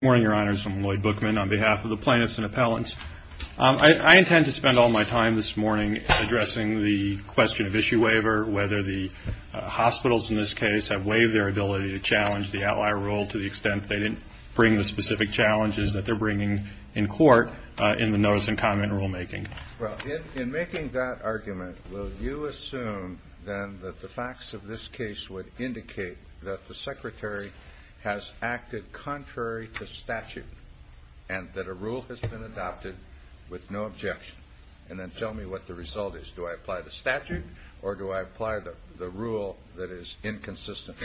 Good morning, your honors. I'm Lloyd Bookman on behalf of the plaintiffs and appellants. I intend to spend all my time this morning addressing the question of issue waiver, whether the hospitals in this case have waived their ability to challenge the outlier rule to the extent they didn't bring the specific challenges that they're bringing in court in the notice and comment rulemaking. Well, in making that argument, will you assume then that the facts of this case would indicate that the secretary has acted contrary to statute and that a rule has been adopted with no objection? And then tell me what the result is. Do I apply the statute or do I apply the rule that is inconsistent?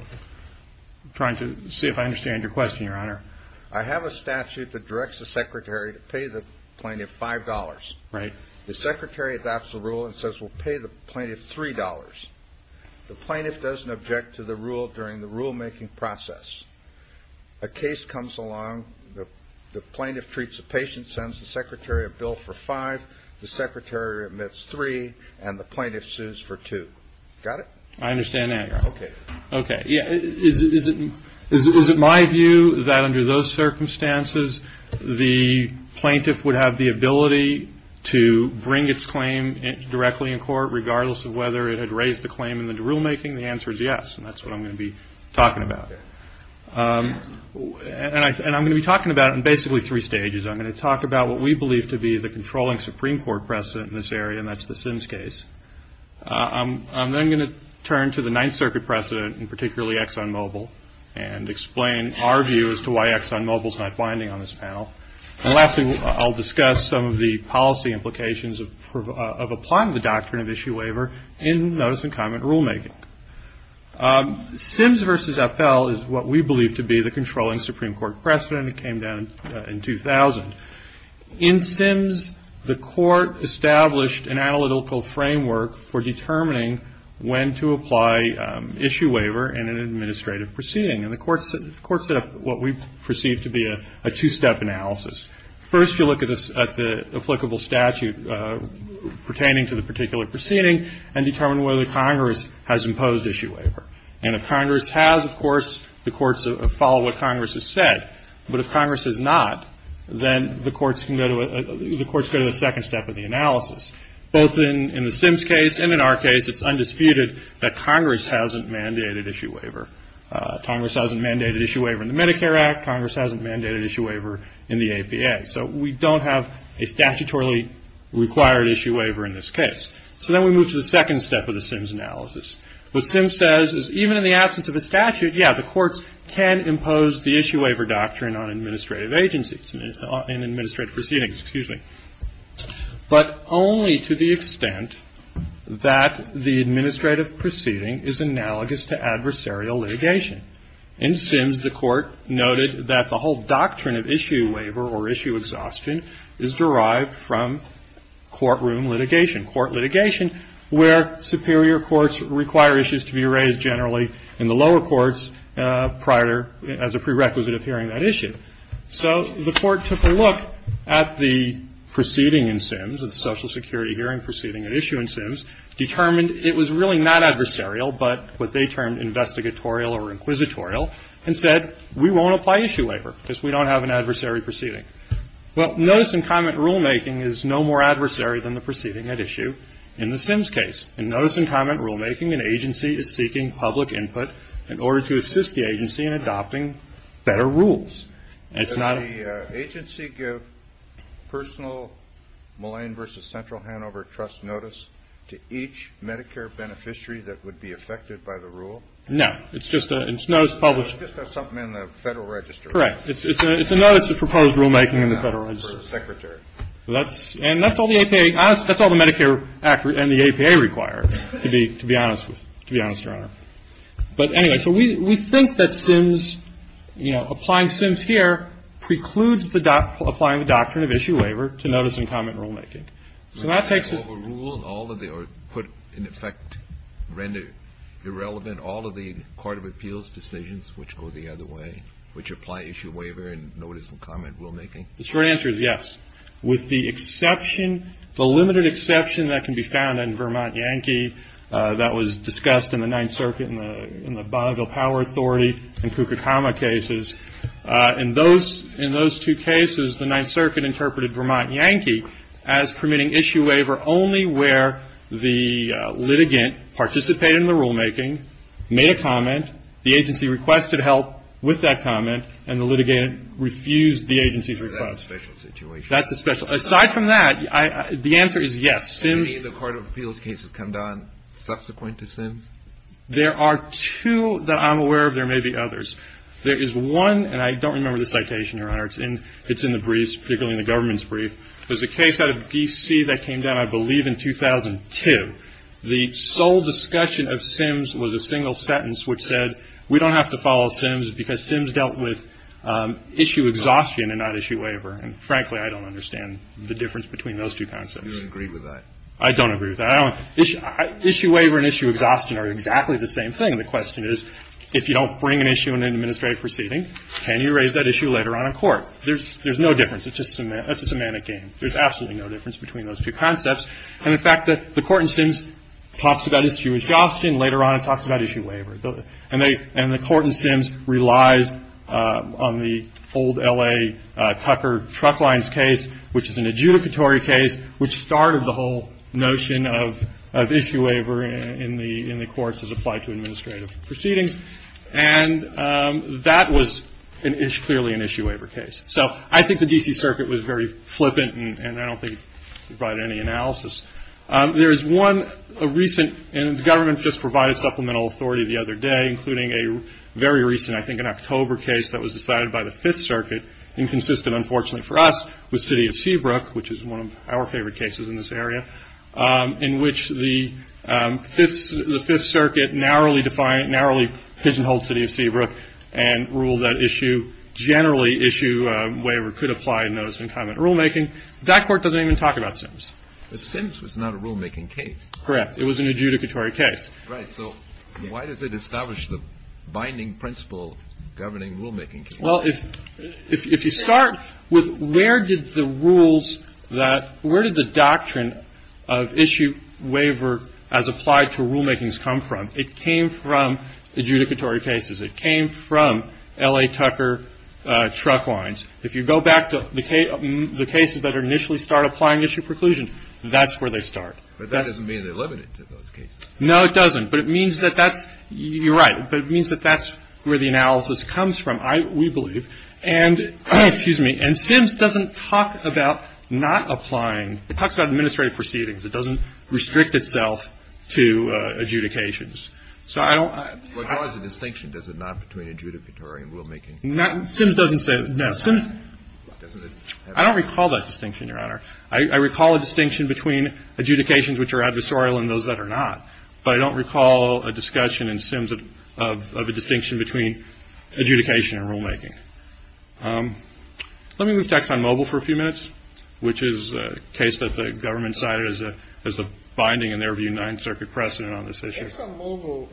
I'm trying to see if I understand your question, your honor. Your honor, I have a statute that directs the secretary to pay the plaintiff $5. Right. The secretary adopts the rule and says we'll pay the plaintiff $3. The plaintiff doesn't object to the rule during the rulemaking process. A case comes along, the plaintiff treats the patient, sends the secretary a bill for $5, the secretary admits $3, and the plaintiff sues for $2. Got it? I understand that. Okay. Okay. Is it my view that under those circumstances the plaintiff would have the ability to bring its claim directly in court regardless of whether it had raised the claim in the rulemaking? The answer is yes, and that's what I'm going to be talking about. And I'm going to be talking about it in basically three stages. I'm going to talk about what we believe to be the controlling Supreme Court precedent in this area, and that's the Sims case. I'm then going to turn to the Ninth Circuit precedent, and particularly ExxonMobil, and explain our view as to why ExxonMobil's not binding on this panel. And lastly, I'll discuss some of the policy implications of applying the doctrine of issue waiver in notice and comment rulemaking. Sims v. FL is what we believe to be the controlling Supreme Court precedent. It came down in 2000. In Sims, the court established an analytical framework for determining when to apply issue waiver in an administrative proceeding. And the court set up what we perceive to be a two-step analysis. First, you look at the applicable statute pertaining to the particular proceeding and determine whether Congress has imposed issue waiver. And if Congress has, of course, the courts follow what Congress has said. But if Congress has not, then the courts go to the second step of the analysis. Both in the Sims case and in our case, it's undisputed that Congress hasn't mandated issue waiver. Congress hasn't mandated issue waiver in the Medicare Act. Congress hasn't mandated issue waiver in the APA. So we don't have a statutorily required issue waiver in this case. So then we move to the second step of the Sims analysis. What Sims says is even in the absence of a statute, yeah, the courts can impose the issue waiver doctrine on administrative agencies and administrative proceedings, excuse me. But only to the extent that the administrative proceeding is analogous to adversarial litigation. In Sims, the court noted that the whole doctrine of issue waiver or issue exhaustion is derived from courtroom litigation, court litigation where superior courts require issues to be raised generally in the lower courts prior to as a prerequisite of hearing that issue. So the court took a look at the proceeding in Sims, the Social Security hearing proceeding at issue in Sims, determined it was really not adversarial but what they termed investigatorial or inquisitorial, and said we won't apply issue waiver because we don't have an adversary proceeding. Well, notice and comment rulemaking is no more adversary than the proceeding at issue in the Sims case. In notice and comment rulemaking, an agency is seeking public input in order to assist the agency in adopting better rules. It's not a ---- The agency give personal Mullane v. Central Hanover Trust notice to each Medicare beneficiary that would be affected by the rule? No. It's just a notice published. It's just something in the Federal Register. Correct. It's a notice of proposed rulemaking in the Federal Register. For the Secretary. And that's all the APA, that's all the Medicare Act and the APA require, to be honest with, to be honest, Your Honor. But anyway, so we think that Sims, you know, applying Sims here precludes the, applying the doctrine of issue waiver to notice and comment rulemaking. So that takes a ---- Rule, all of the, or put in effect, render irrelevant all of the court of appeals decisions which go the other way, which apply issue waiver and notice and comment rulemaking? The short answer is yes. With the exception, the limited exception that can be found in Vermont Yankee, that was discussed in the Ninth Circuit in the Bonneville Power Authority and Koukoukama cases. In those two cases, the Ninth Circuit interpreted Vermont Yankee as permitting issue waiver only where the litigant participated in the rulemaking, made a comment, the agency requested help with that comment, and the litigant refused the agency's request. That's a special situation. That's a special. Aside from that, the answer is yes. Any of the court of appeals cases come down subsequent to Sims? There are two that I'm aware of. There may be others. There is one, and I don't remember the citation, Your Honor, it's in the briefs, particularly in the government's brief. There's a case out of D.C. that came down, I believe, in 2002. The sole discussion of Sims was a single sentence which said, we don't have to follow Sims because Sims dealt with issue exhaustion and not issue waiver. And frankly, I don't understand the difference between those two concepts. You don't agree with that? I don't agree with that. Issue waiver and issue exhaustion are exactly the same thing. The question is, if you don't bring an issue in an administrative proceeding, can you raise that issue later on in court? There's no difference. It's a semantic game. There's absolutely no difference between those two concepts. And the fact that the court in Sims talks about issue exhaustion, later on it talks about issue waiver. And the court in Sims relies on the old L.A. Tucker truck lines case, which is an adjudicatory case, which started the whole notion of issue waiver in the courts as applied to administrative proceedings. And that was clearly an issue waiver case. So I think the D.C. Circuit was very flippant, and I don't think it provided any analysis. There is one recent, and the government just provided supplemental authority the other day, including a very recent, I think an October case that was decided by the Fifth Circuit, and consisted, unfortunately for us, with City of Seabrook, which is one of our favorite cases in this area, in which the Fifth Circuit narrowly pigeonholed City of Seabrook and ruled that issue, generally issue waiver, could apply in notice and comment rulemaking. That court doesn't even talk about Sims. Sims was not a rulemaking case. Correct. It was an adjudicatory case. Right. So why does it establish the binding principle governing rulemaking? Well, if you start with where did the rules that, where did the doctrine of issue waiver as applied to rulemakings come from? It came from adjudicatory cases. It came from L.A. Tucker truck lines. If you go back to the cases that initially start applying issue preclusion, that's where they start. But that doesn't mean they're limited to those cases. No, it doesn't. But it means that that's, you're right, but it means that that's where the analysis comes from, we believe. And Sims doesn't talk about not applying. It talks about administrative proceedings. It doesn't restrict itself to adjudications. So I don't. What caused the distinction? Does it not between adjudicatory and rulemaking? Sims doesn't say. I don't recall that distinction, Your Honor. I recall a distinction between adjudications which are adversarial and those that are not. But I don't recall a discussion in Sims of a distinction between adjudication and rulemaking. Let me move to Exxon Mobil for a few minutes, which is a case that the government cited as the binding, in their view, on this issue. Exxon Mobil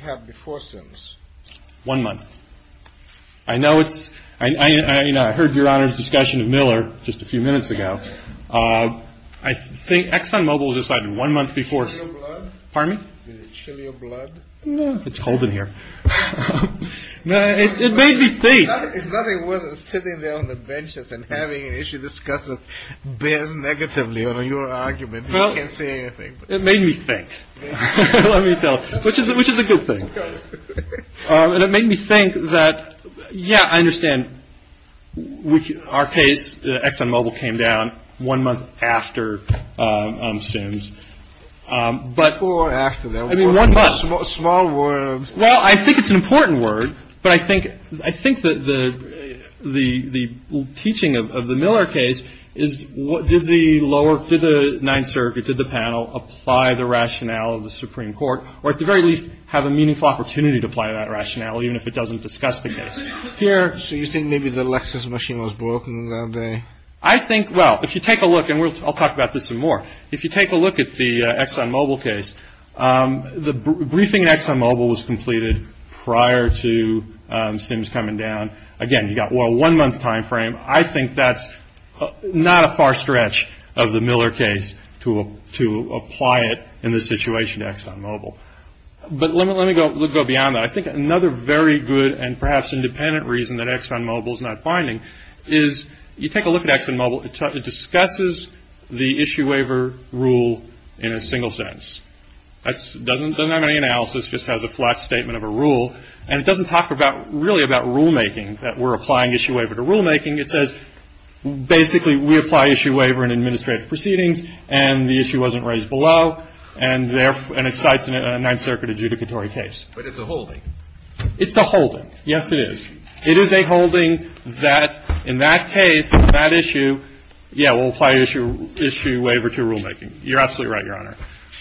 had before Sims. One month. I know it's, I heard Your Honor's discussion of Miller just a few minutes ago. I think Exxon Mobil decided one month before. Did it chill your blood? Pardon me? Did it chill your blood? No, it's cold in here. It made me think. It's nothing worse than sitting there on the benches and having an issue discussed that bears negatively on your argument. You can't say anything. It made me think. Let me tell you, which is a good thing. And it made me think that, yeah, I understand our case, Exxon Mobil came down one month after Sims. Before or after? I mean, one month. Small words. Well, I think it's an important word. But I think that the teaching of the Miller case is what did the lower, did the Ninth Circuit, did the panel apply the rationale of the Supreme Court, or at the very least, have a meaningful opportunity to apply that rationale, even if it doesn't discuss the case. Here, so you think maybe the Lexus machine was broken that day? I think, well, if you take a look, and I'll talk about this some more. If you take a look at the Exxon Mobil case, the briefing at Exxon Mobil was completed prior to Sims coming down. Again, you've got, well, a one-month time frame. I think that's not a far stretch of the Miller case to apply it in this situation to Exxon Mobil. But let me go beyond that. I think another very good and perhaps independent reason that Exxon Mobil is not binding is you take a look at Exxon Mobil. It discusses the issue waiver rule in a single sentence. It doesn't have any analysis. It just has a flat statement of a rule. And it doesn't talk about, really, about rulemaking, that we're applying issue waiver to rulemaking. It says basically we apply issue waiver in administrative proceedings, and the issue wasn't raised below, and it cites a Ninth Circuit adjudicatory case. But it's a holding. It's a holding. Yes, it is. It is a holding that, in that case, that issue, yeah, we'll apply issue waiver to rulemaking. You're absolutely right, Your Honor.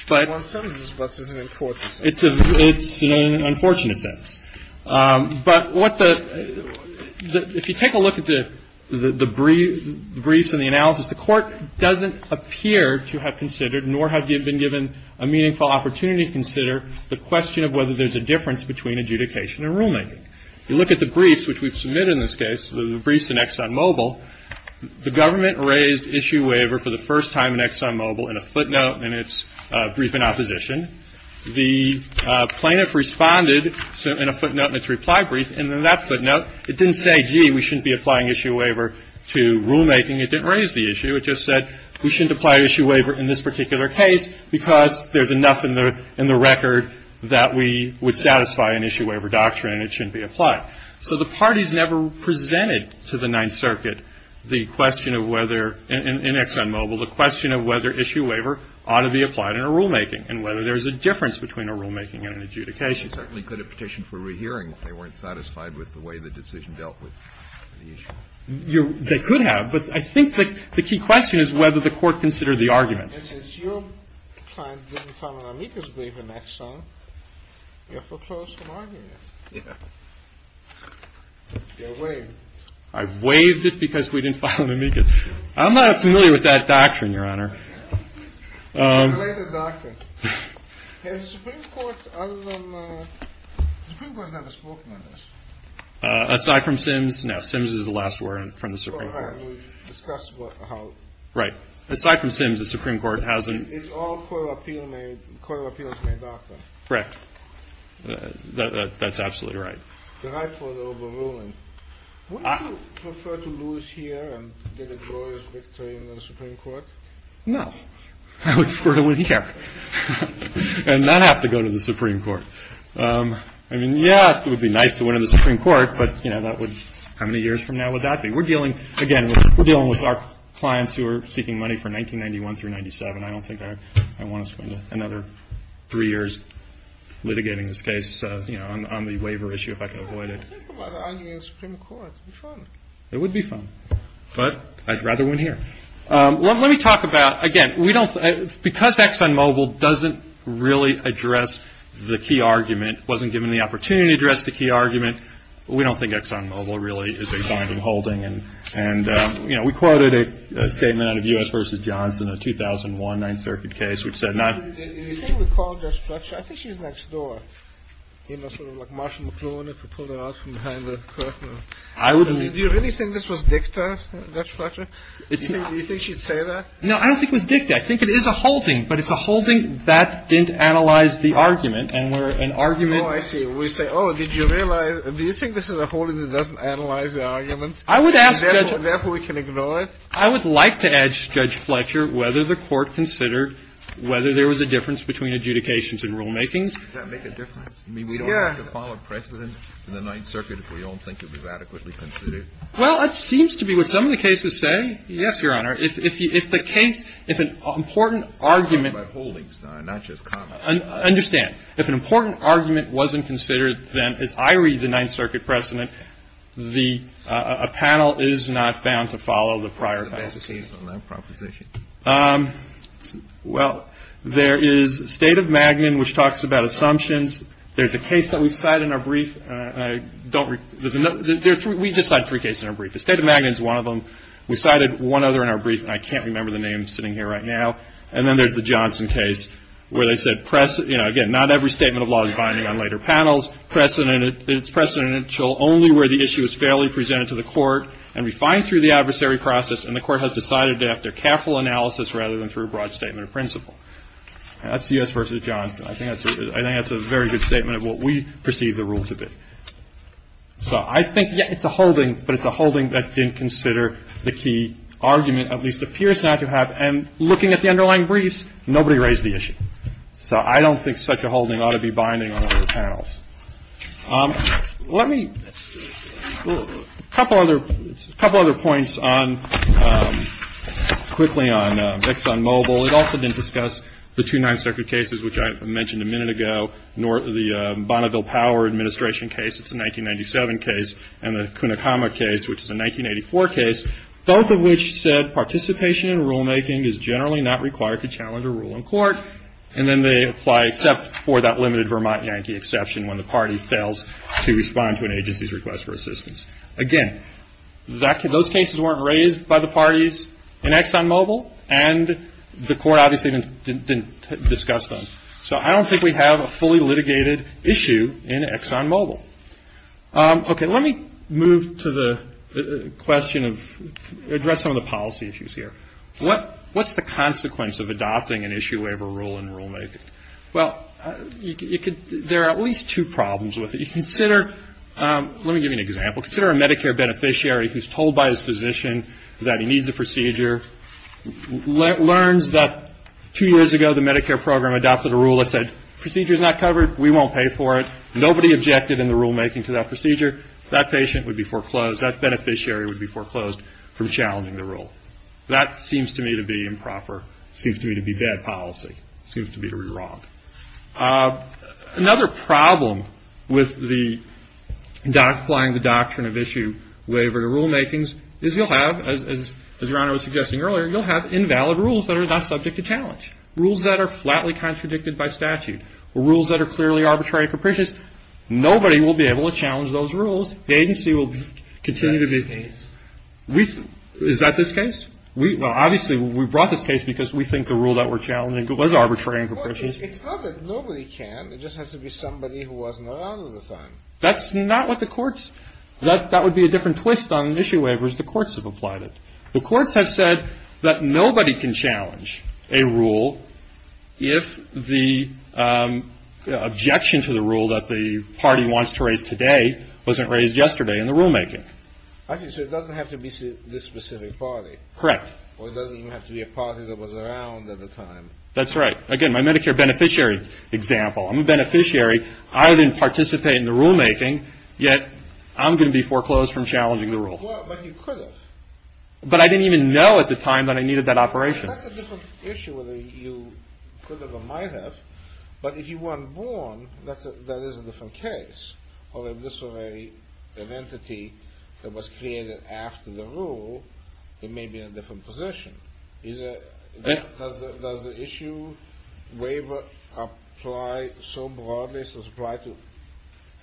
But — Well, in some of the respects, it's an unfortunate thing. It's an unfortunate sense. But what the — if you take a look at the briefs and the analysis, the Court doesn't appear to have considered nor have you been given a meaningful opportunity to consider the question of whether there's a difference between adjudication and rulemaking. You look at the briefs, which we've submitted in this case, the briefs in ExxonMobil, the government raised issue waiver for the first time in ExxonMobil in a footnote in its briefing opposition. The plaintiff responded in a footnote in its reply brief, and in that footnote, it didn't say, gee, we shouldn't be applying issue waiver to rulemaking. It didn't raise the issue. It just said we shouldn't apply issue waiver in this particular case because there's enough in the record that we would satisfy an issue waiver doctrine. And it shouldn't be applied. So the parties never presented to the Ninth Circuit the question of whether — in ExxonMobil, the question of whether issue waiver ought to be applied in a rulemaking and whether there's a difference between a rulemaking and an adjudication. They certainly could have petitioned for rehearing if they weren't satisfied with the way the decision dealt with the issue. They could have, but I think the key question is whether the Court considered the argument. And since your client didn't file an amicus waiver in Exxon, you're foreclosed from arguing it. Yeah. You're waived. I've waived it because we didn't file an amicus. I'm not familiar with that doctrine, Your Honor. Related doctrine. Has the Supreme Court other than — the Supreme Court has never spoken on this. Aside from Sims — no, Sims is the last word from the Supreme Court. Oh, right. We discussed how — Right. Aside from Sims, the Supreme Court hasn't — It's all court of appeals-made doctrine. Correct. That's absolutely right. The right for the overruling. Would you prefer to lose here and get a glorious victory in the Supreme Court? No. I would prefer to win here and not have to go to the Supreme Court. I mean, yeah, it would be nice to win in the Supreme Court, but, you know, that would — how many years from now would that be? We're dealing — again, we're dealing with our clients who are seeking money for 1991 through 97. I don't think I want to spend another three years litigating this case, you know, on the waiver issue if I can avoid it. Think about arguing in the Supreme Court. It would be fun. It would be fun. But I'd rather win here. Let me talk about — again, we don't — because ExxonMobil doesn't really address the key argument, wasn't given the opportunity to address the key argument, we don't think ExxonMobil really is a binding holding. And, you know, we quoted a statement out of U.S. v. Johnson, a 2001 Ninth Circuit case, which said not — Do you think we called Judge Fletcher? I think she's next door, you know, sort of like Marshall McLuhan if we pulled her out from behind the curtain. I would — Do you really think this was dicta, Judge Fletcher? Do you think she'd say that? No, I don't think it was dicta. I think it is a holding, but it's a holding that didn't analyze the argument. And we're — an argument — Oh, I see. We say, oh, did you realize — do you think this is a holding that doesn't analyze the argument? I would ask Judge — Therefore, we can ignore it. I would like to ask Judge Fletcher whether the Court considered whether there was a difference between adjudications and rulemakings. Does that make a difference? Yeah. I mean, we don't have to follow precedent in the Ninth Circuit if we don't think it was adequately considered. Well, that seems to be what some of the cases say. Yes, Your Honor. If the case — if an important argument — By holdings, not just comments. Understand. If an important argument wasn't considered, then, as I read the Ninth Circuit precedent, the — a panel is not bound to follow the prior — What's the best case on that proposition? Well, there is State of Magnin, which talks about assumptions. There's a case that we've cited in our brief. I don't — there's — we just cited three cases in our brief. The State of Magnin is one of them. We cited one other in our brief, and I can't remember the name sitting here right now. And then there's the Johnson case where they said, you know, again, not every statement of law is binding on later panels. It's precedential only where the issue is fairly presented to the court and refined through the adversary process, and the court has decided to have their careful analysis rather than through a broad statement of principle. That's U.S. v. Johnson. I think that's a very good statement of what we perceive the rules to be. So I think — yeah, it's a holding, but it's a holding that didn't consider the key argument, at least appears not to have. And looking at the underlying briefs, nobody raised the issue. So I don't think such a holding ought to be binding on later panels. Let me — a couple other points on — quickly on Vix on mobile. It also didn't discuss the two nonspecific cases which I mentioned a minute ago, the Bonneville Power Administration case. It's a 1997 case, and the Kunikama case, which is a 1984 case, both of which said participation in rulemaking is generally not required to challenge a rule in court, and then they apply except for that limited Vermont Yankee exception when the party fails to respond to an agency's request for assistance. Again, those cases weren't raised by the parties in ExxonMobil, and the court obviously didn't discuss them. So I don't think we have a fully litigated issue in ExxonMobil. Okay, let me move to the question of — address some of the policy issues here. What's the consequence of adopting an issue waiver rule in rulemaking? Well, you could — there are at least two problems with it. You consider — let me give you an example. Consider a Medicare beneficiary who's told by his physician that he needs a procedure, learns that two years ago the Medicare program adopted a rule that said procedure's not covered, we won't pay for it. Nobody objected in the rulemaking to that procedure. That patient would be foreclosed. That beneficiary would be foreclosed from challenging the rule. That seems to me to be improper, seems to me to be bad policy, seems to me to be wrong. Another problem with the — applying the doctrine of issue waiver to rulemakings is you'll have, as Your Honor was suggesting earlier, you'll have invalid rules that are not subject to challenge, rules that are flatly contradicted by statute, rules that are clearly arbitrary and capricious. Nobody will be able to challenge those rules. The agency will continue to be — Is that this case? Is that this case? Obviously, we brought this case because we think the rule that we're challenging was arbitrary and capricious. Well, it's not that nobody can. It just has to be somebody who wasn't around at the time. That's not what the courts — that would be a different twist on issue waivers. The courts have applied it. The courts have said that nobody can challenge a rule if the objection to the rule that the party wants to raise today wasn't raised yesterday in the rulemaking. So it doesn't have to be this specific party. Correct. Or it doesn't even have to be a party that was around at the time. That's right. Again, my Medicare beneficiary example. I'm a beneficiary. I didn't participate in the rulemaking, yet I'm going to be foreclosed from challenging the rule. Well, but you could have. But I didn't even know at the time that I needed that operation. That's a different issue whether you could have or might have. But if you weren't born, that is a different case. Or if this were an entity that was created after the rule, it may be in a different position. Does the issue waiver apply so broadly, so it's applied to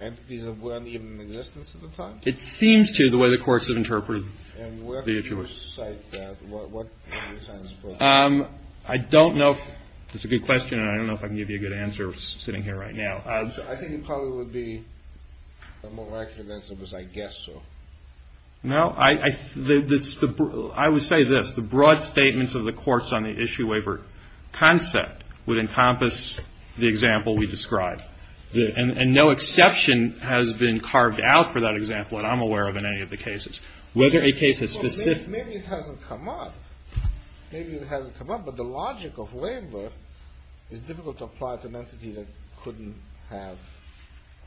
entities that weren't even in existence at the time? It seems to, the way the courts have interpreted the issue. And where do you cite that? What are your thoughts? I don't know. That's a good question, and I don't know if I can give you a good answer sitting here right now. I think it probably would be a more accurate answer, because I guess so. No, I would say this. The broad statements of the courts on the issue waiver concept would encompass the example we described. And no exception has been carved out for that example that I'm aware of in any of the cases. Whether a case is specific. Maybe it hasn't come up. Maybe it hasn't come up. But the logic of waiver is difficult to apply to an entity that couldn't have.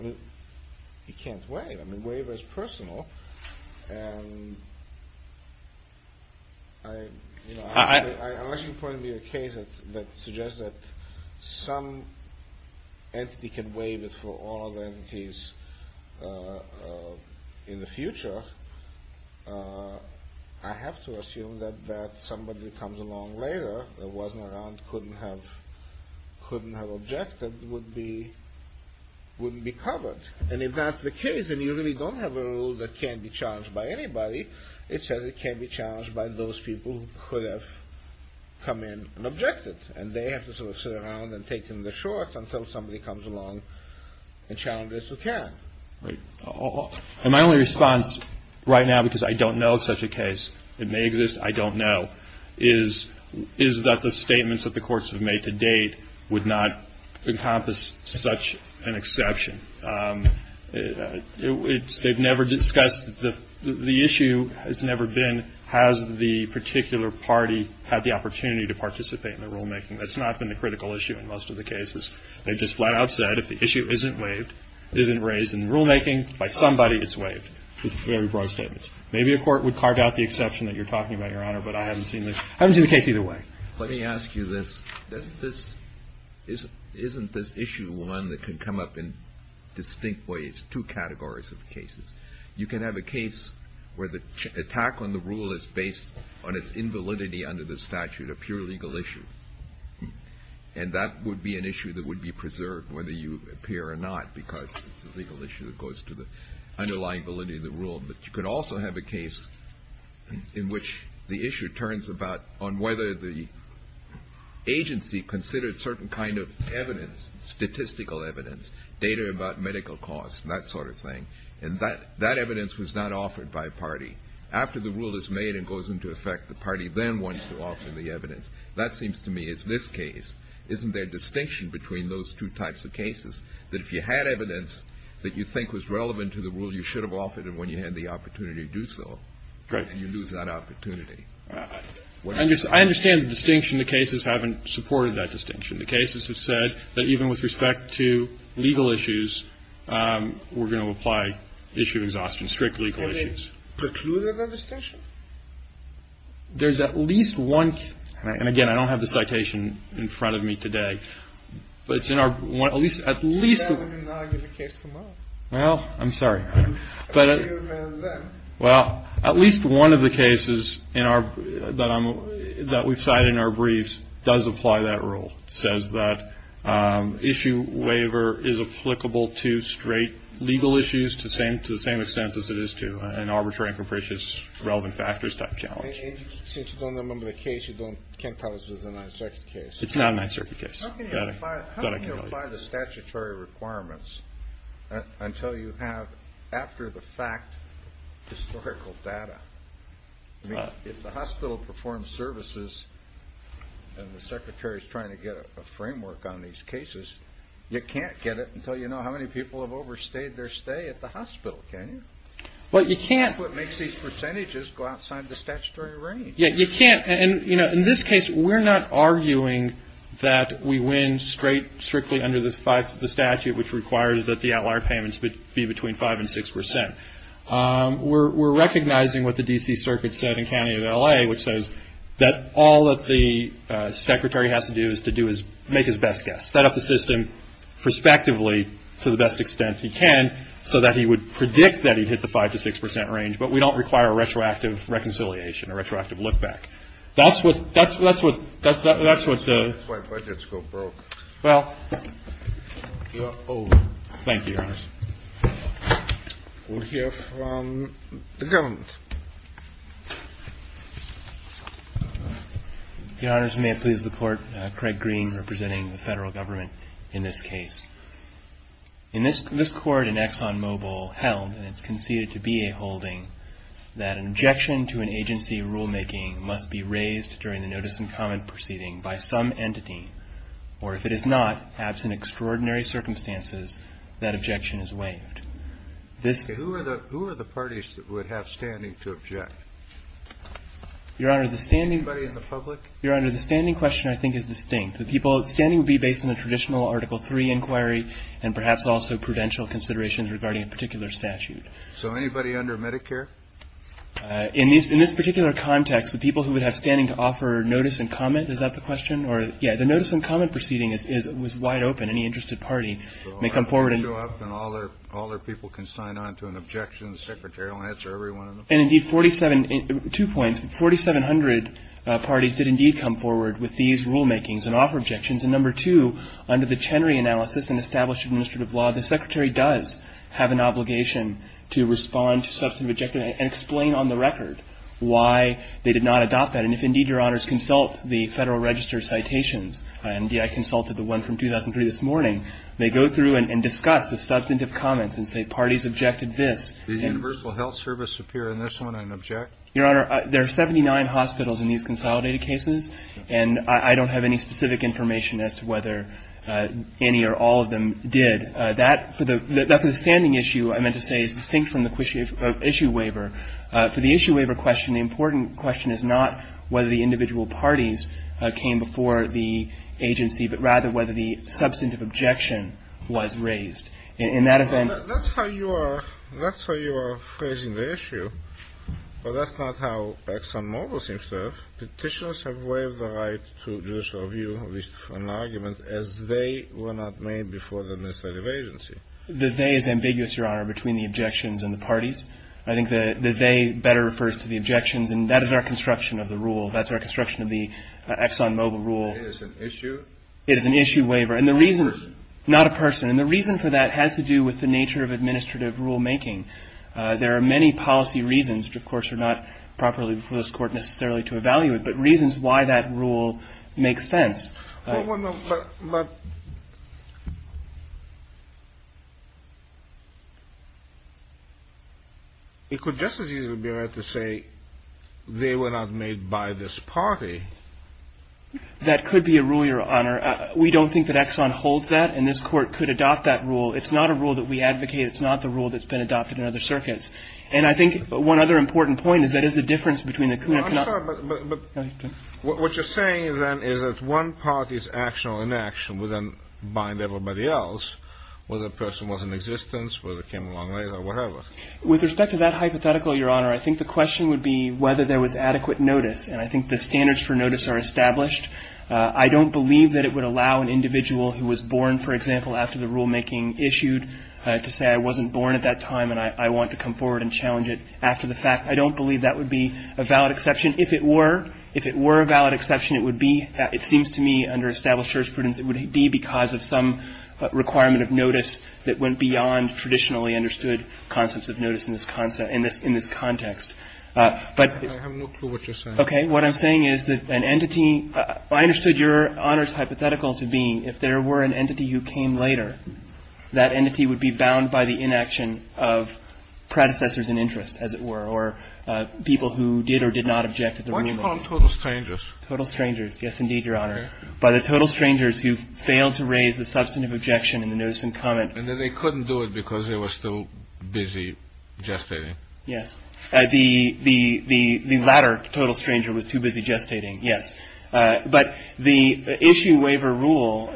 You can't waive. I mean, waiver is personal. And unless you point me to a case that suggests that some entity can waive it for all other entities in the future, I have to assume that somebody that comes along later, that wasn't around, couldn't have objected, wouldn't be covered. And if that's the case, and you really don't have a rule that can't be challenged by anybody, it says it can't be challenged by those people who could have come in and objected. And they have to sort of sit around and take in the shorts until somebody comes along and challenges who can. Right. And my only response right now, because I don't know of such a case, it may exist, I don't know, is that the statements that the courts have made to date would not encompass such an exception. They've never discussed the issue has never been, has the particular party had the opportunity to participate in the rulemaking. That's not been the critical issue in most of the cases. They've just flat out said, if the issue isn't waived, isn't raised in the rulemaking by somebody, it's waived. It's very broad statements. Maybe a court would carve out the exception that you're talking about, Your Honor, but I haven't seen the case either way. Let me ask you this. Isn't this issue one that can come up in distinct ways, two categories of cases? You can have a case where the attack on the rule is based on its invalidity under the statute, a pure legal issue. And that would be an issue that would be preserved whether you appear or not, because it's a legal issue that goes to the underlying validity of the rule. But you could also have a case in which the issue turns about on whether the agency considered certain kind of evidence, statistical evidence, data about medical costs, that sort of thing. And that evidence was not offered by a party. After the rule is made and goes into effect, the party then wants to offer the evidence. That seems to me is this case. And I don't think that's a good way to go about it. I think the distinction is that if you had evidence that you think was relevant to the rule, you should have offered it when you had the opportunity to do so. And you lose that opportunity. What do you think? I understand the distinction. The cases haven't supported that distinction. The cases have said that even with respect to legal issues, we're going to apply issue of exhaustion, strict legal issues. Is that precluded in the distinction? There's at least one case. And again, I don't have the citation in front of me today. But it's in our at least one of the cases that we've cited in our briefs does apply that rule. It says that issue waiver is applicable to straight legal issues to the same extent as it is to an arbitrary and capricious relevant factors type challenge. Since you don't remember the case, you can't tell us it's a nonsurface case. It's not a nonsurface case. How can you apply the statutory requirements until you have after the fact historical data? If the hospital performs services and the secretary is trying to get a framework on these cases, you can't get it until you know how many people have overstayed their stay at the hospital, can you? Well, you can't. That's what makes these percentages go outside the statutory range. Yeah, you can't. And, you know, in this case, we're not arguing that we win straight strictly under the statute, which requires that the outlier payments be between 5% and 6%. We're recognizing what the D.C. Circuit said in County of L.A., which says that all that the secretary has to do is to make his best guess, set up the system prospectively to the best extent he can so that he would predict that he'd hit the 5% to 6% range, but we don't require a retroactive reconciliation, a retroactive look back. That's what the — Well, thank you, Your Honors. We'll hear from the government. Your Honors, may it please the Court, Craig Green representing the Federal Government in this case. In this court in ExxonMobil held, and it's conceded to be a holding, that an objection to an agency rulemaking must be raised during the notice and comment proceeding by some entity, or if it is not, absent extraordinary circumstances, that objection is waived. Who are the parties that would have standing to object? Your Honor, the standing — Anybody in the public? Your Honor, the standing question, I think, is distinct. The people standing would be based on a traditional Article III inquiry and perhaps also prudential considerations regarding a particular statute. So anybody under Medicare? In this particular context, the people who would have standing to offer notice and comment, is that the question? Or, yeah, the notice and comment proceeding was wide open. Any interested party may come forward and — So I show up and all their people can sign on to an objection, and the Secretary will answer every one of them? And, indeed, 47 — two points. 4,700 parties did, indeed, come forward with these rulemakings and offer objections. And, number two, under the Chenery analysis and established administrative law, the Secretary does have an obligation to respond to substantive objections and explain on the record why they did not adopt that. And if, indeed, Your Honors, consult the Federal Register citations, and I consulted the one from 2003 this morning, they go through and discuss the substantive comments and say parties objected this. Did the Universal Health Service appear in this one and object? Your Honor, there are 79 hospitals in these consolidated cases, and I don't have any specific information as to whether any or all of them did. That, for the standing issue, I meant to say, is distinct from the issue waiver. For the issue waiver question, the important question is not whether the individual parties came before the agency, but rather whether the substantive objection was raised. In that event — That's how you are phrasing the issue, but that's not how ExxonMobil seems to have. Petitioners have waived the right to judicial review with an argument as they were not made before the administrative agency. The they is ambiguous, Your Honor, between the objections and the parties. I think the they better refers to the objections, and that is our construction of the rule. That's our construction of the ExxonMobil rule. It is an issue? It is an issue waiver. Not a person? Not a person. And the reason for that has to do with the nature of administrative rulemaking. There are many policy reasons, which, of course, are not properly before this Court necessarily to evaluate, but reasons why that rule makes sense. But it could just as easily be right to say they were not made by this party. That could be a rule, Your Honor. We don't think that Exxon holds that, and this Court could adopt that rule. It's not a rule that we advocate. It's not the rule that's been adopted in other circuits. And I think one other important point is that is the difference between the — What you're saying, then, is that one party's action or inaction would then bind everybody else, whether the person was in existence, whether it came along later, whatever. With respect to that hypothetical, Your Honor, I think the question would be whether there was adequate notice. And I think the standards for notice are established. I don't believe that it would allow an individual who was born, for example, after the rulemaking issued to say, I wasn't born at that time, and I want to come forward and challenge it after the fact. I don't believe that would be a valid exception. If it were, if it were a valid exception, it would be — it seems to me, under established jurisprudence, it would be because of some requirement of notice that went beyond traditionally understood concepts of notice in this context. But — I have no clue what you're saying. Okay. What I'm saying is that an entity — I understood Your Honor's hypothetical to be if there were an entity who came later, that entity would be bound by the inaction of predecessors in interest, as it were, or people who did or did not object at the rulemaking. Which from total strangers. Total strangers. Yes, indeed, Your Honor. By the total strangers who failed to raise the substantive objection in the notice in comment. And then they couldn't do it because they were still busy gestating. Yes. The latter total stranger was too busy gestating, yes. But the issue waiver rule,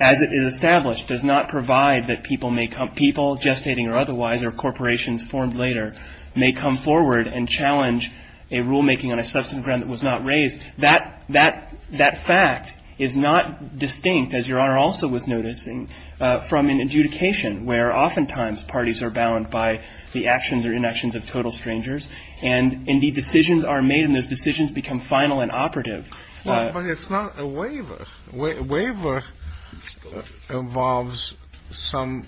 as it is established, does not provide that people may — people gestating or otherwise or corporations formed later may come forward and challenge a rulemaking on a substantive ground that was not raised. That fact is not distinct, as Your Honor also was noticing, from an adjudication, where oftentimes parties are bound by the actions or inactions of total strangers. And, indeed, decisions are made and those decisions become final and operative. But it's not a waiver. Waiver involves some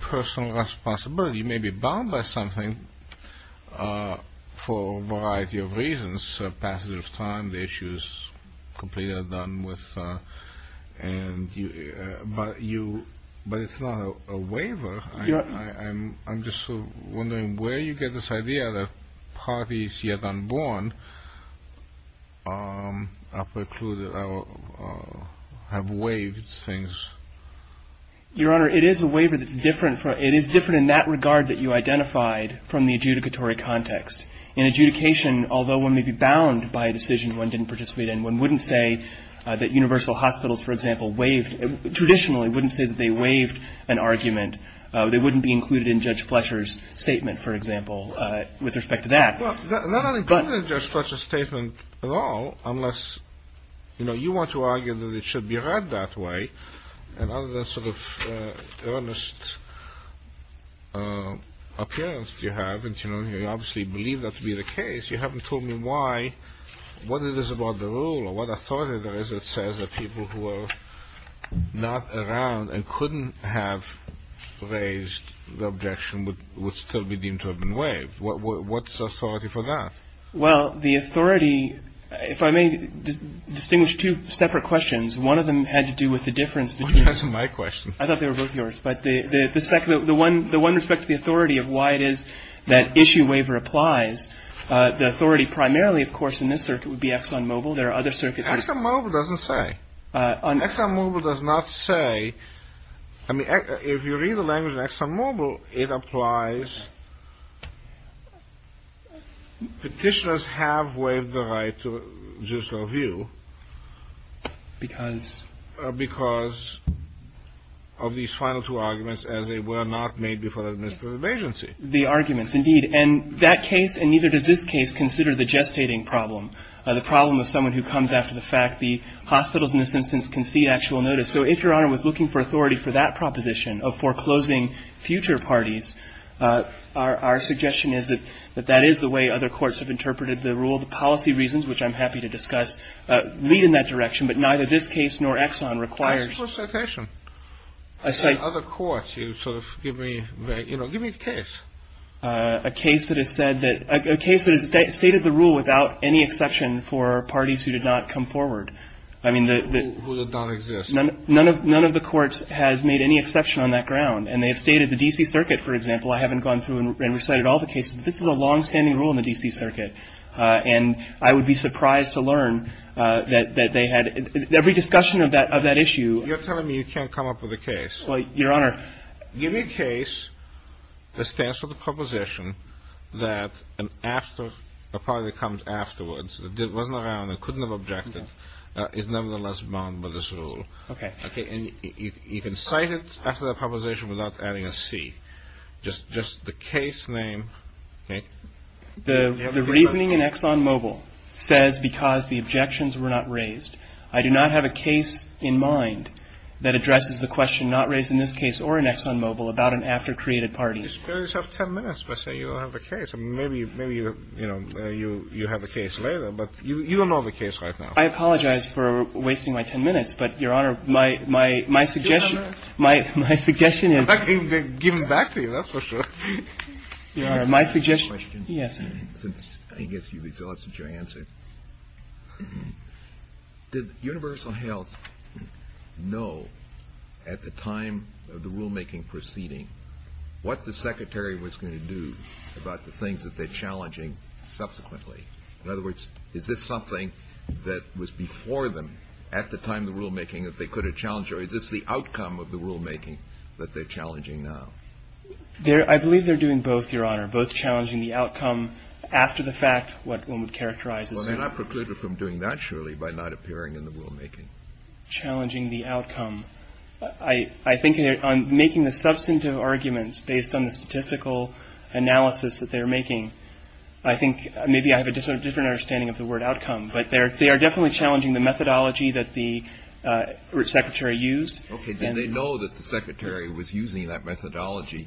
personal responsibility. You may be bound by something for a variety of reasons. A passage of time, the issue is completely done with — but it's not a waiver. I'm just wondering where you get this idea that parties yet unborn have waived things. Your Honor, it is a waiver that's different. It is different in that regard that you identified from the adjudicatory context. In adjudication, although one may be bound by a decision one didn't participate in, one wouldn't say that universal hospitals, for example, waived — they wouldn't be included in Judge Fletcher's statement, for example, with respect to that. Well, they're not included in Judge Fletcher's statement at all unless — you know, you want to argue that it should be read that way. And other than sort of earnest appearance you have, and you obviously believe that to be the case, you haven't told me why, what it is about the rule or what authority there is that says that people who are not around and couldn't have raised the objection would still be deemed to have been waived. What's the authority for that? Well, the authority — if I may distinguish two separate questions. One of them had to do with the difference between — Which wasn't my question. I thought they were both yours. But the one with respect to the authority of why it is that issue waiver applies, the authority primarily, of course, in this circuit would be Exxon Mobil. There are other circuits — Exxon Mobil doesn't say. Exxon Mobil does not say. I mean, if you read the language in Exxon Mobil, it applies. Petitioners have waived the right to judicial review. Because? Because of these final two arguments as they were not made before the administrative agency. The arguments, indeed. And that case and neither does this case consider the gestating problem, the problem of someone who comes after the fact. The hospitals, in this instance, can see actual notice. So if Your Honor was looking for authority for that proposition of foreclosing future parties, our suggestion is that that is the way other courts have interpreted the rule. The policy reasons, which I'm happy to discuss, lead in that direction. But neither this case nor Exxon requires — What's the citation? Other courts. You sort of give me — you know, give me the case. A case that has said that — a case that has stated the rule without any exception for parties who did not come forward. I mean, the — Who did not exist. None of the courts has made any exception on that ground. And they have stated the D.C. Circuit, for example. I haven't gone through and recited all the cases. This is a longstanding rule in the D.C. Circuit. And I would be surprised to learn that they had — every discussion of that issue — You're telling me you can't come up with a case. Well, Your Honor — Give me a case that stands for the proposition that an after — a party that comes afterwards, that wasn't around and couldn't have objected, is nevertheless bound by this rule. Okay. Okay. And you can cite it after the proposition without adding a C. Just the case name, okay? The reasoning in ExxonMobil says because the objections were not raised. I do not have a case in mind that addresses the question not raised in this case or in ExxonMobil about an after-created party. You still have 10 minutes. Let's say you don't have a case. And maybe — maybe, you know, you have a case later. But you don't know the case right now. I apologize for wasting my 10 minutes. But, Your Honor, my — my suggestion — Give him 10 minutes. My suggestion is — In fact, give him back to you. That's for sure. Your Honor, my suggestion — I guess you've exhausted your answer. Did Universal Health know at the time of the rulemaking proceeding what the secretary was going to do about the things that they're challenging subsequently? In other words, is this something that was before them at the time of the rulemaking that they could have challenged? Or is this the outcome of the rulemaking that they're challenging now? I believe they're doing both, Your Honor, both challenging the outcome after the fact, what one would characterize as — Well, they're not precluded from doing that, surely, by not appearing in the rulemaking. Challenging the outcome. I think on making the substantive arguments based on the statistical analysis that they're making, I think maybe I have a different understanding of the word outcome. But they are definitely challenging the methodology that the secretary used. Okay. Did they know that the secretary was using that methodology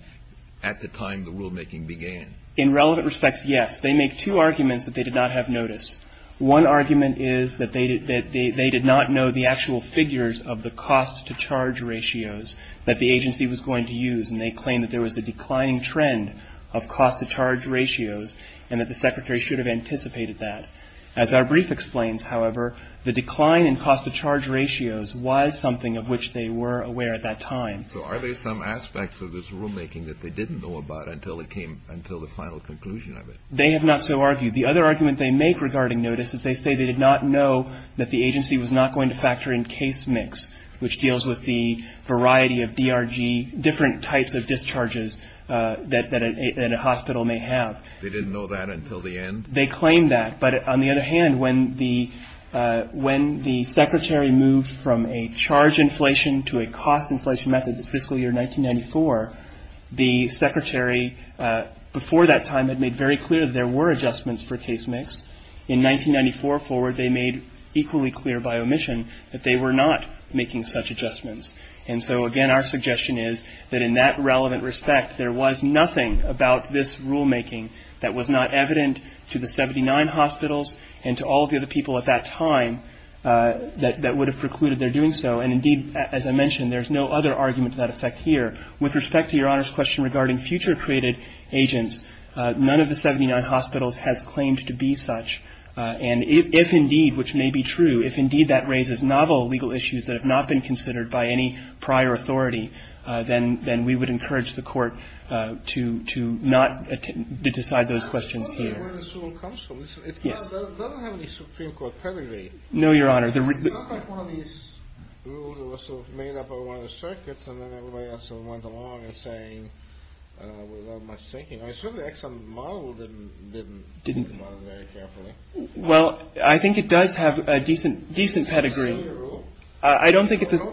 at the time the rulemaking began? In relevant respects, yes. They make two arguments that they did not have notice. One argument is that they did not know the actual figures of the cost-to-charge ratios that the agency was going to use. And they claim that there was a declining trend of cost-to-charge ratios and that the secretary should have anticipated that. As our brief explains, however, the decline in cost-to-charge ratios was something of which they were aware at that time. So are there some aspects of this rulemaking that they didn't know about until it came — until the final conclusion of it? They have not so argued. The other argument they make regarding notice is they say they did not know that the agency was not going to factor in case mix, which deals with the variety of DRG, different types of discharges that a hospital may have. They didn't know that until the end? They claim that. But on the other hand, when the secretary moved from a charge inflation to a cost inflation method in fiscal year 1994, the secretary before that time had made very clear that there were adjustments for case mix. In 1994 forward, they made equally clear by omission that they were not making such adjustments. And so, again, our suggestion is that in that relevant respect, there was nothing about this rulemaking that was not evident to the 79 hospitals and to all of the other people at that time that would have precluded their doing so. And, indeed, as I mentioned, there's no other argument to that effect here. With respect to Your Honor's question regarding future created agents, none of the 79 hospitals has claimed to be such. And if indeed, which may be true, if indeed that raises novel legal issues that have not been considered by any prior authority, then we would encourage the Court to not decide those questions here. Yes. No, Your Honor. Well, I think it does have a decent pedigree. I don't think it does.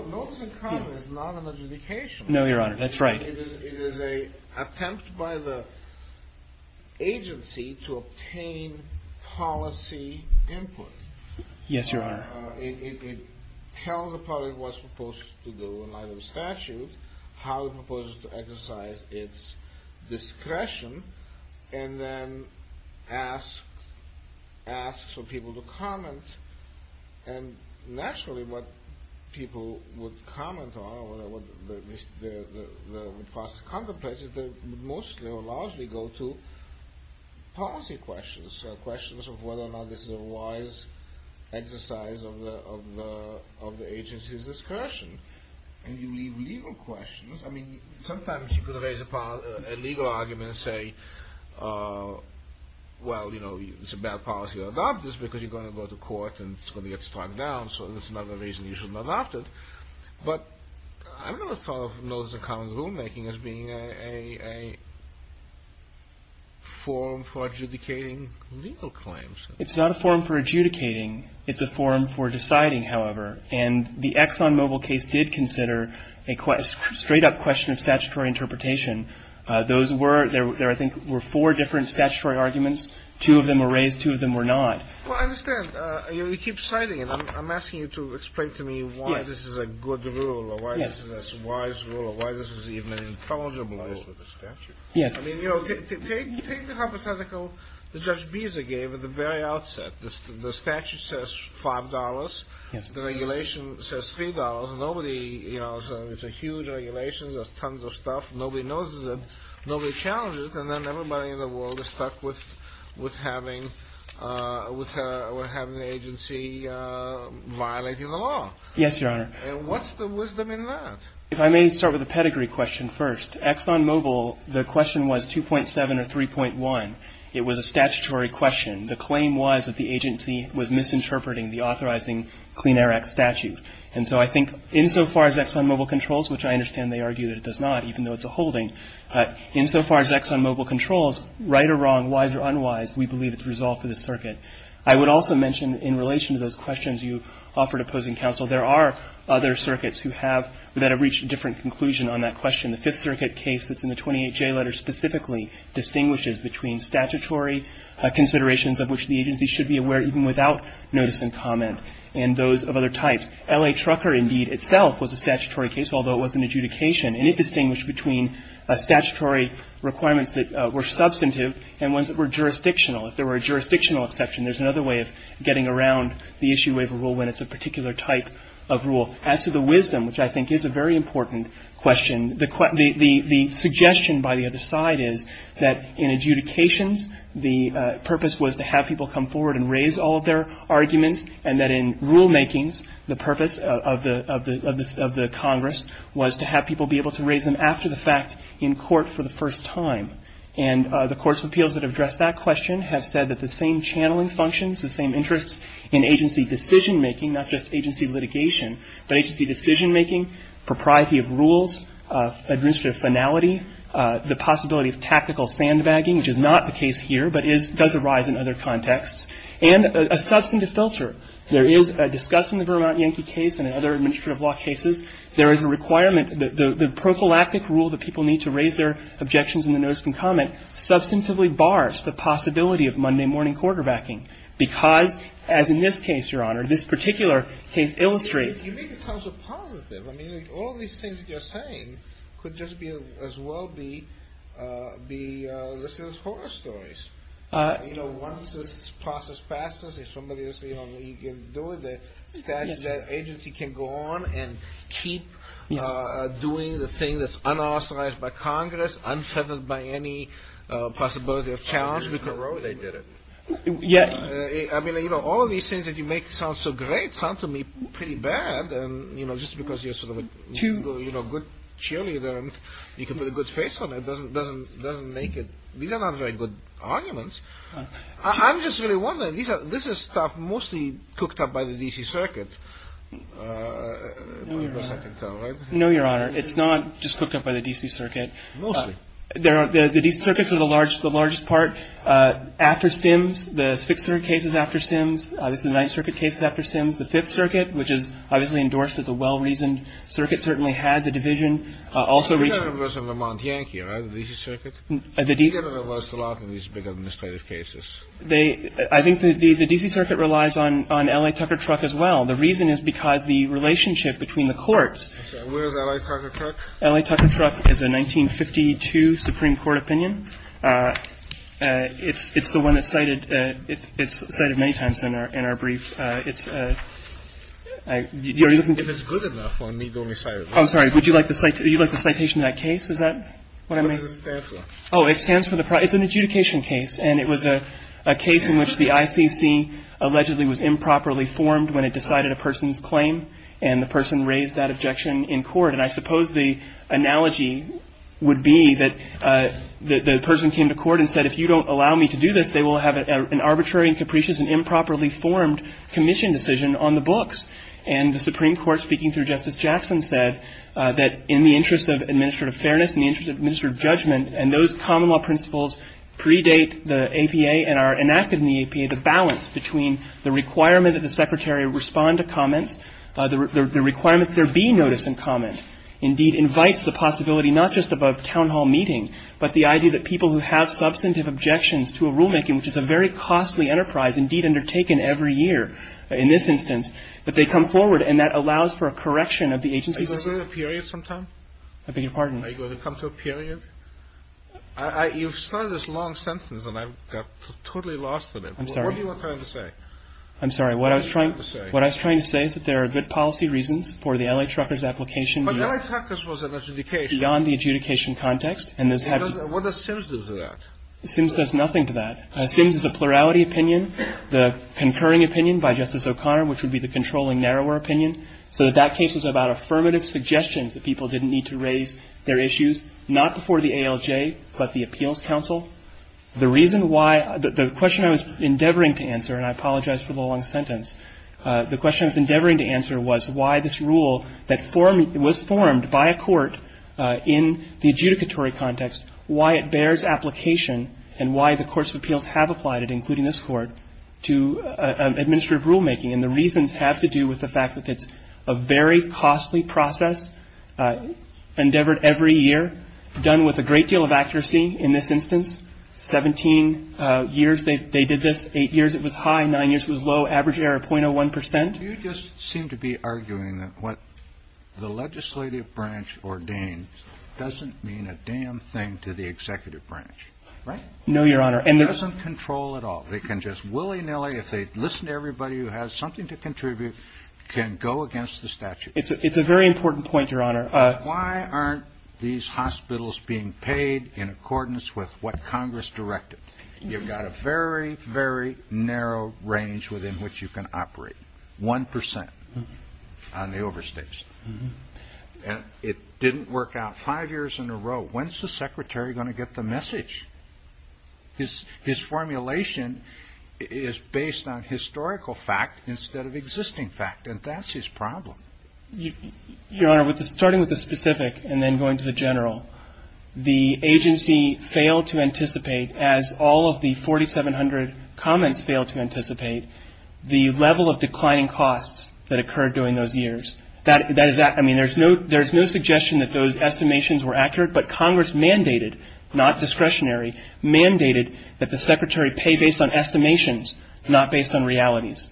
No, Your Honor. That's right. It is an attempt by the agency to obtain policy input. Yes, Your Honor. It tells the public what it's supposed to do in light of the statute, how it's supposed to exercise its discretion, and then asks for people to comment. And, naturally, what people would comment on or what the process contemplates is that it would mostly or largely go to policy questions, so questions of whether or not this is a wise exercise of the agency's discretion. And you leave legal questions. I mean, sometimes you could raise a legal argument and say, well, you know, it's a bad policy to adopt this because you're going to go to court and it's going to get struck down, so there's another reason you shouldn't adopt it. But I've never sort of noticed a common rulemaking as being a form for adjudicating legal claims. It's not a form for adjudicating. It's a form for deciding, however. And the ExxonMobil case did consider a straight-up question of statutory interpretation. Those were — there, I think, were four different statutory arguments. Two of them were raised. Two of them were not. Well, I understand. You keep citing it. I'm asking you to explain to me why this is a good rule or why this is a wise rule or why this is even an intelligible rule. Yes. I mean, you know, take the hypothetical that Judge Beza gave at the very outset. The statute says $5. Yes. The regulation says $3. Nobody — you know, it's a huge regulation. There's tons of stuff. Nobody knows it. Nobody challenges it. And then everybody in the world is stuck with having the agency violate the law. Yes, Your Honor. And what's the wisdom in that? If I may start with a pedigree question first. ExxonMobil, the question was 2.7 or 3.1. It was a statutory question. The claim was that the agency was misinterpreting the authorizing Clean Air Act statute. And so I think insofar as ExxonMobil controls, which I understand they argue that it does not, even though it's a holding, insofar as ExxonMobil controls, right or wrong, wise or unwise, we believe it's resolved for this circuit. I would also mention in relation to those questions you offered opposing counsel, there are other circuits who have — that have reached a different conclusion on that question. The Fifth Circuit case that's in the 28J letter specifically distinguishes between statutory considerations of which the agency should be aware even without notice and comment and those of other types. L.A. Trucker indeed itself was a statutory case, although it was an adjudication. And it distinguished between statutory requirements that were substantive and ones that were jurisdictional. If there were a jurisdictional exception, there's another way of getting around the issue waiver rule when it's a particular type of rule. As to the wisdom, which I think is a very important question, the suggestion by the other side is that in adjudications, the purpose was to have people come forward and raise all of their arguments, and that in rulemakings, the purpose of the Congress was to have people be able to raise them after the fact in court for the first time. And the courts of appeals that address that question have said that the same channeling functions, the same interests in agency decision-making, not just agency litigation, but agency decision-making, propriety of rules, administrative finality, the possibility of tactical sandbagging, which is not the case here but does arise in other contexts, and a substantive filter. There is, discussed in the Vermont Yankee case and other administrative law cases, there is a requirement that the prophylactic rule that people need to raise their objections in the notice and comment substantively bars the possibility of Monday morning quarterbacking because, as in this case, Your Honor, this particular case illustrates. You make it sound so positive. I mean, all of these things that you're saying could just as well be listed as horror stories. You know, once this process passes, if somebody else, you know, you can do it, the agency can go on and keep doing the thing that's unauthorized by Congress, unsettled by any possibility of challenge because they did it. Yeah. I mean, you know, all of these things that you make sound so great sound to me pretty bad. And, you know, just because you're sort of a good cheerleader and you can put a good face on it doesn't make it. These are not very good arguments. I'm just really wondering. This is stuff mostly cooked up by the D.C. Circuit, right? No, Your Honor. It's not just cooked up by the D.C. Circuit. Mostly. The D.C. Circuits are the largest part. After Sims, the Sixth Circuit case is after Sims. Obviously, the Ninth Circuit case is after Sims. The Fifth Circuit, which is obviously endorsed as a well-reasoned circuit, certainly had the division. Also recently. It was in Vermont Yankee, right? The D.C. Circuit? The D.C. You get reversed a lot in these big administrative cases. I think the D.C. Circuit relies on L.A. Tucker Truck as well. The reason is because the relationship between the courts. Where is L.A. Tucker Truck? L.A. Tucker Truck is a 1952 Supreme Court opinion. It's the one that's cited. It's cited many times in our brief. It's a. You're looking. If it's good enough. I'm sorry. Would you like the citation of that case? Is that what I mean? Oh, it stands for the. It's an adjudication case. And it was a case in which the ICC allegedly was improperly formed when it decided a person's claim. And the person raised that objection in court. And I suppose the analogy would be that the person came to court and said, if you don't allow me to do this, they will have an arbitrary and capricious and improperly formed commission decision on the books. And the Supreme Court, speaking through Justice Jackson, said that in the interest of administrative fairness, in the interest of administrative judgment, and those common law principles predate the APA and are enacted in the APA, the balance between the requirement that the secretary respond to comments, the requirement there be notice and comment indeed invites the possibility not just about town hall meeting, but the idea that people who have substantive objections to a rulemaking, which is a very costly enterprise indeed undertaken every year in this instance, that they come forward and that allows for a correction of the agency's. Period sometime. I beg your pardon. Are you going to come to a period? You've started this long sentence and I've got totally lost in it. I'm sorry. I'm sorry. What I was trying to say is that there are good policy reasons for the L.A. Trucker's application. But L.A. Trucker's was an adjudication. Beyond the adjudication context. What does Sims do to that? Sims does nothing to that. Sims is a plurality opinion, the concurring opinion by Justice O'Connor, which would be the controlling narrower opinion. So that case was about affirmative suggestions that people didn't need to raise their issues, not before the ALJ, but the Appeals Council. The reason why the question I was endeavoring to answer, and I apologize for the long sentence, the question I was endeavoring to answer was why this rule that was formed by a court in the adjudicatory context, why it bears application and why the courts of appeals have applied it, including this court, to administrative rulemaking. And the reasons have to do with the fact that it's a very costly process, endeavored every year, done with a great deal of accuracy in this instance. Seventeen years they did this. Eight years it was high. Nine years it was low. Average error, 0.01 percent. You just seem to be arguing that what the legislative branch ordained doesn't mean a damn thing to the executive branch, right? No, Your Honor. And it doesn't control at all. They can just willy-nilly, if they listen to everybody who has something to contribute, can go against the statute. It's a very important point, Your Honor. Why aren't these hospitals being paid in accordance with what Congress directed? You've got a very, very narrow range within which you can operate, 1 percent on the overstates. It didn't work out five years in a row. I mean, there's no suggestion that those estimations were accurate, but Congress mandated, not discretionarily, It's a very narrow range. His formulation is based on historical fact instead of existing fact, and that's his problem. Your Honor, starting with the specific and then going to the general, the agency failed to anticipate, as all of the 4,700 comments failed to anticipate, the level of declining costs that occurred during those years. I mean, there's no suggestion that those estimations were accurate, but Congress mandated, not discretionarily, mandated that the secretary pay based on estimations, not based on realities.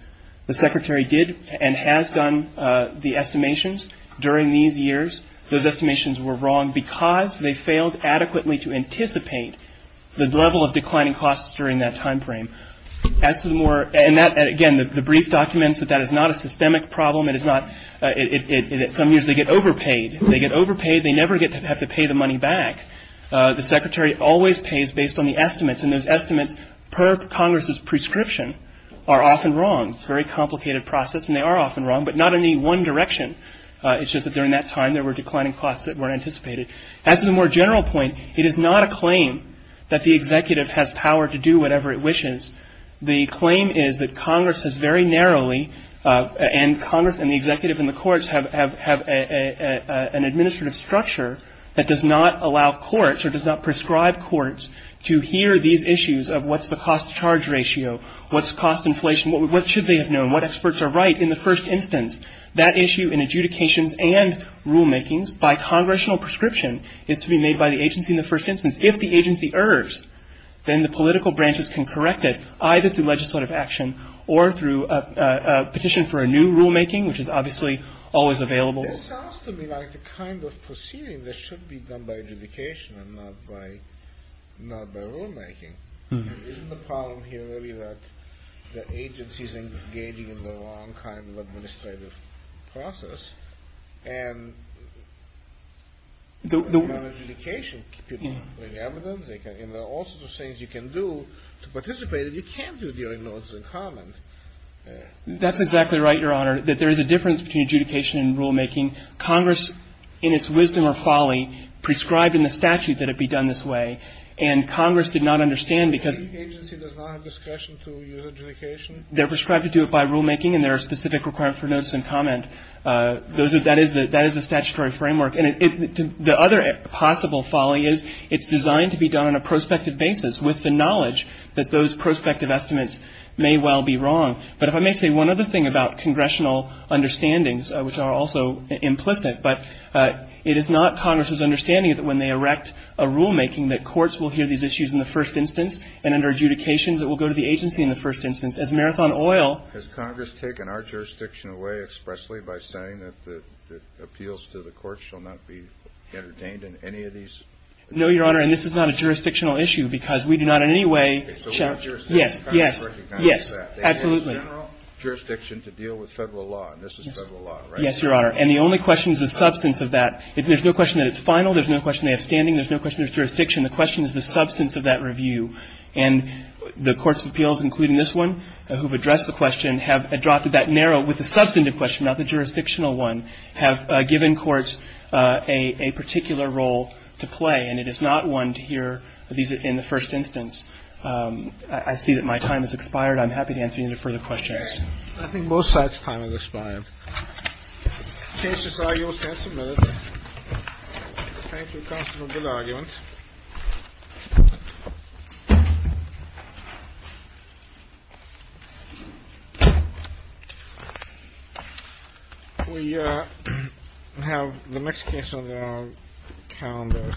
The secretary did and has done the estimations during these years. Those estimations were wrong because they failed adequately to anticipate the level of declining costs during that time frame. As to the more, and that, again, the brief documents, that that is not a systemic problem. It is not, in some years they get overpaid. They get overpaid, they never have to pay the money back. The secretary always pays based on the estimates, and those estimates, per Congress's prescription, are often wrong. It's a very complicated process, and they are often wrong, but not in any one direction. It's just that during that time, there were declining costs that weren't anticipated. As to the more general point, it is not a claim that the executive has power to do whatever it wishes. The claim is that Congress has very narrowly, and Congress and the executive and the courts have an administrative structure that does not allow courts or does not prescribe courts to hear these issues of what's the cost-to-charge ratio, what's cost inflation, what should they have known, what experts are right in the first instance. That issue in adjudications and rulemakings by Congressional prescription is to be made by the agency in the first instance. If the agency errs, then the political branches can correct it, either through legislative action or through a petition for a new rulemaking, which is obviously always available. It sounds to me like the kind of proceeding that should be done by adjudication and not by rulemaking. Isn't the problem here really that the agency is engaging in the wrong kind of administrative process? And without adjudication, people bring evidence. There are all sorts of things you can do to participate that you can't do during notes and comment. That's exactly right, Your Honor, that there is a difference between adjudication and rulemaking. Congress, in its wisdom or folly, prescribed in the statute that it be done this way. And Congress did not understand because the agency does not have discretion to use adjudication. They're prescribed to do it by rulemaking, and there are specific requirements for notes and comment. That is the statutory framework. And the other possible folly is it's designed to be done on a prospective basis, with the knowledge that those prospective estimates may well be wrong. But if I may say one other thing about congressional understandings, which are also implicit, but it is not Congress's understanding that when they erect a rulemaking, that courts will hear these issues in the first instance, and under adjudications, it will go to the agency in the first instance. As Marathon Oil ---- Has Congress taken our jurisdiction away expressly by saying that appeals to the courts shall not be entertained in any of these? No, Your Honor. And this is not a jurisdictional issue, because we do not in any way ---- Okay. So what jurisdiction? Yes. Congress recognizes that. Yes. Absolutely. They want general jurisdiction to deal with Federal law, and this is Federal law, right? Yes, Your Honor. And the only question is the substance of that. There's no question that it's final. There's no question they have standing. There's no question there's jurisdiction. The question is the substance of that review. And the courts of appeals, including this one, who have addressed the question, have adopted that narrow with the substantive question, not the jurisdictional one, have given courts a particular role to play, and it is not one to hear in the first instance. I see that my time has expired. I'm happy to answer any further questions. I think most of our time has expired. The case is argued and submitted. Thank you, Counselor. Good argument. We have the next case on the calendar. Thank you, Your Honor.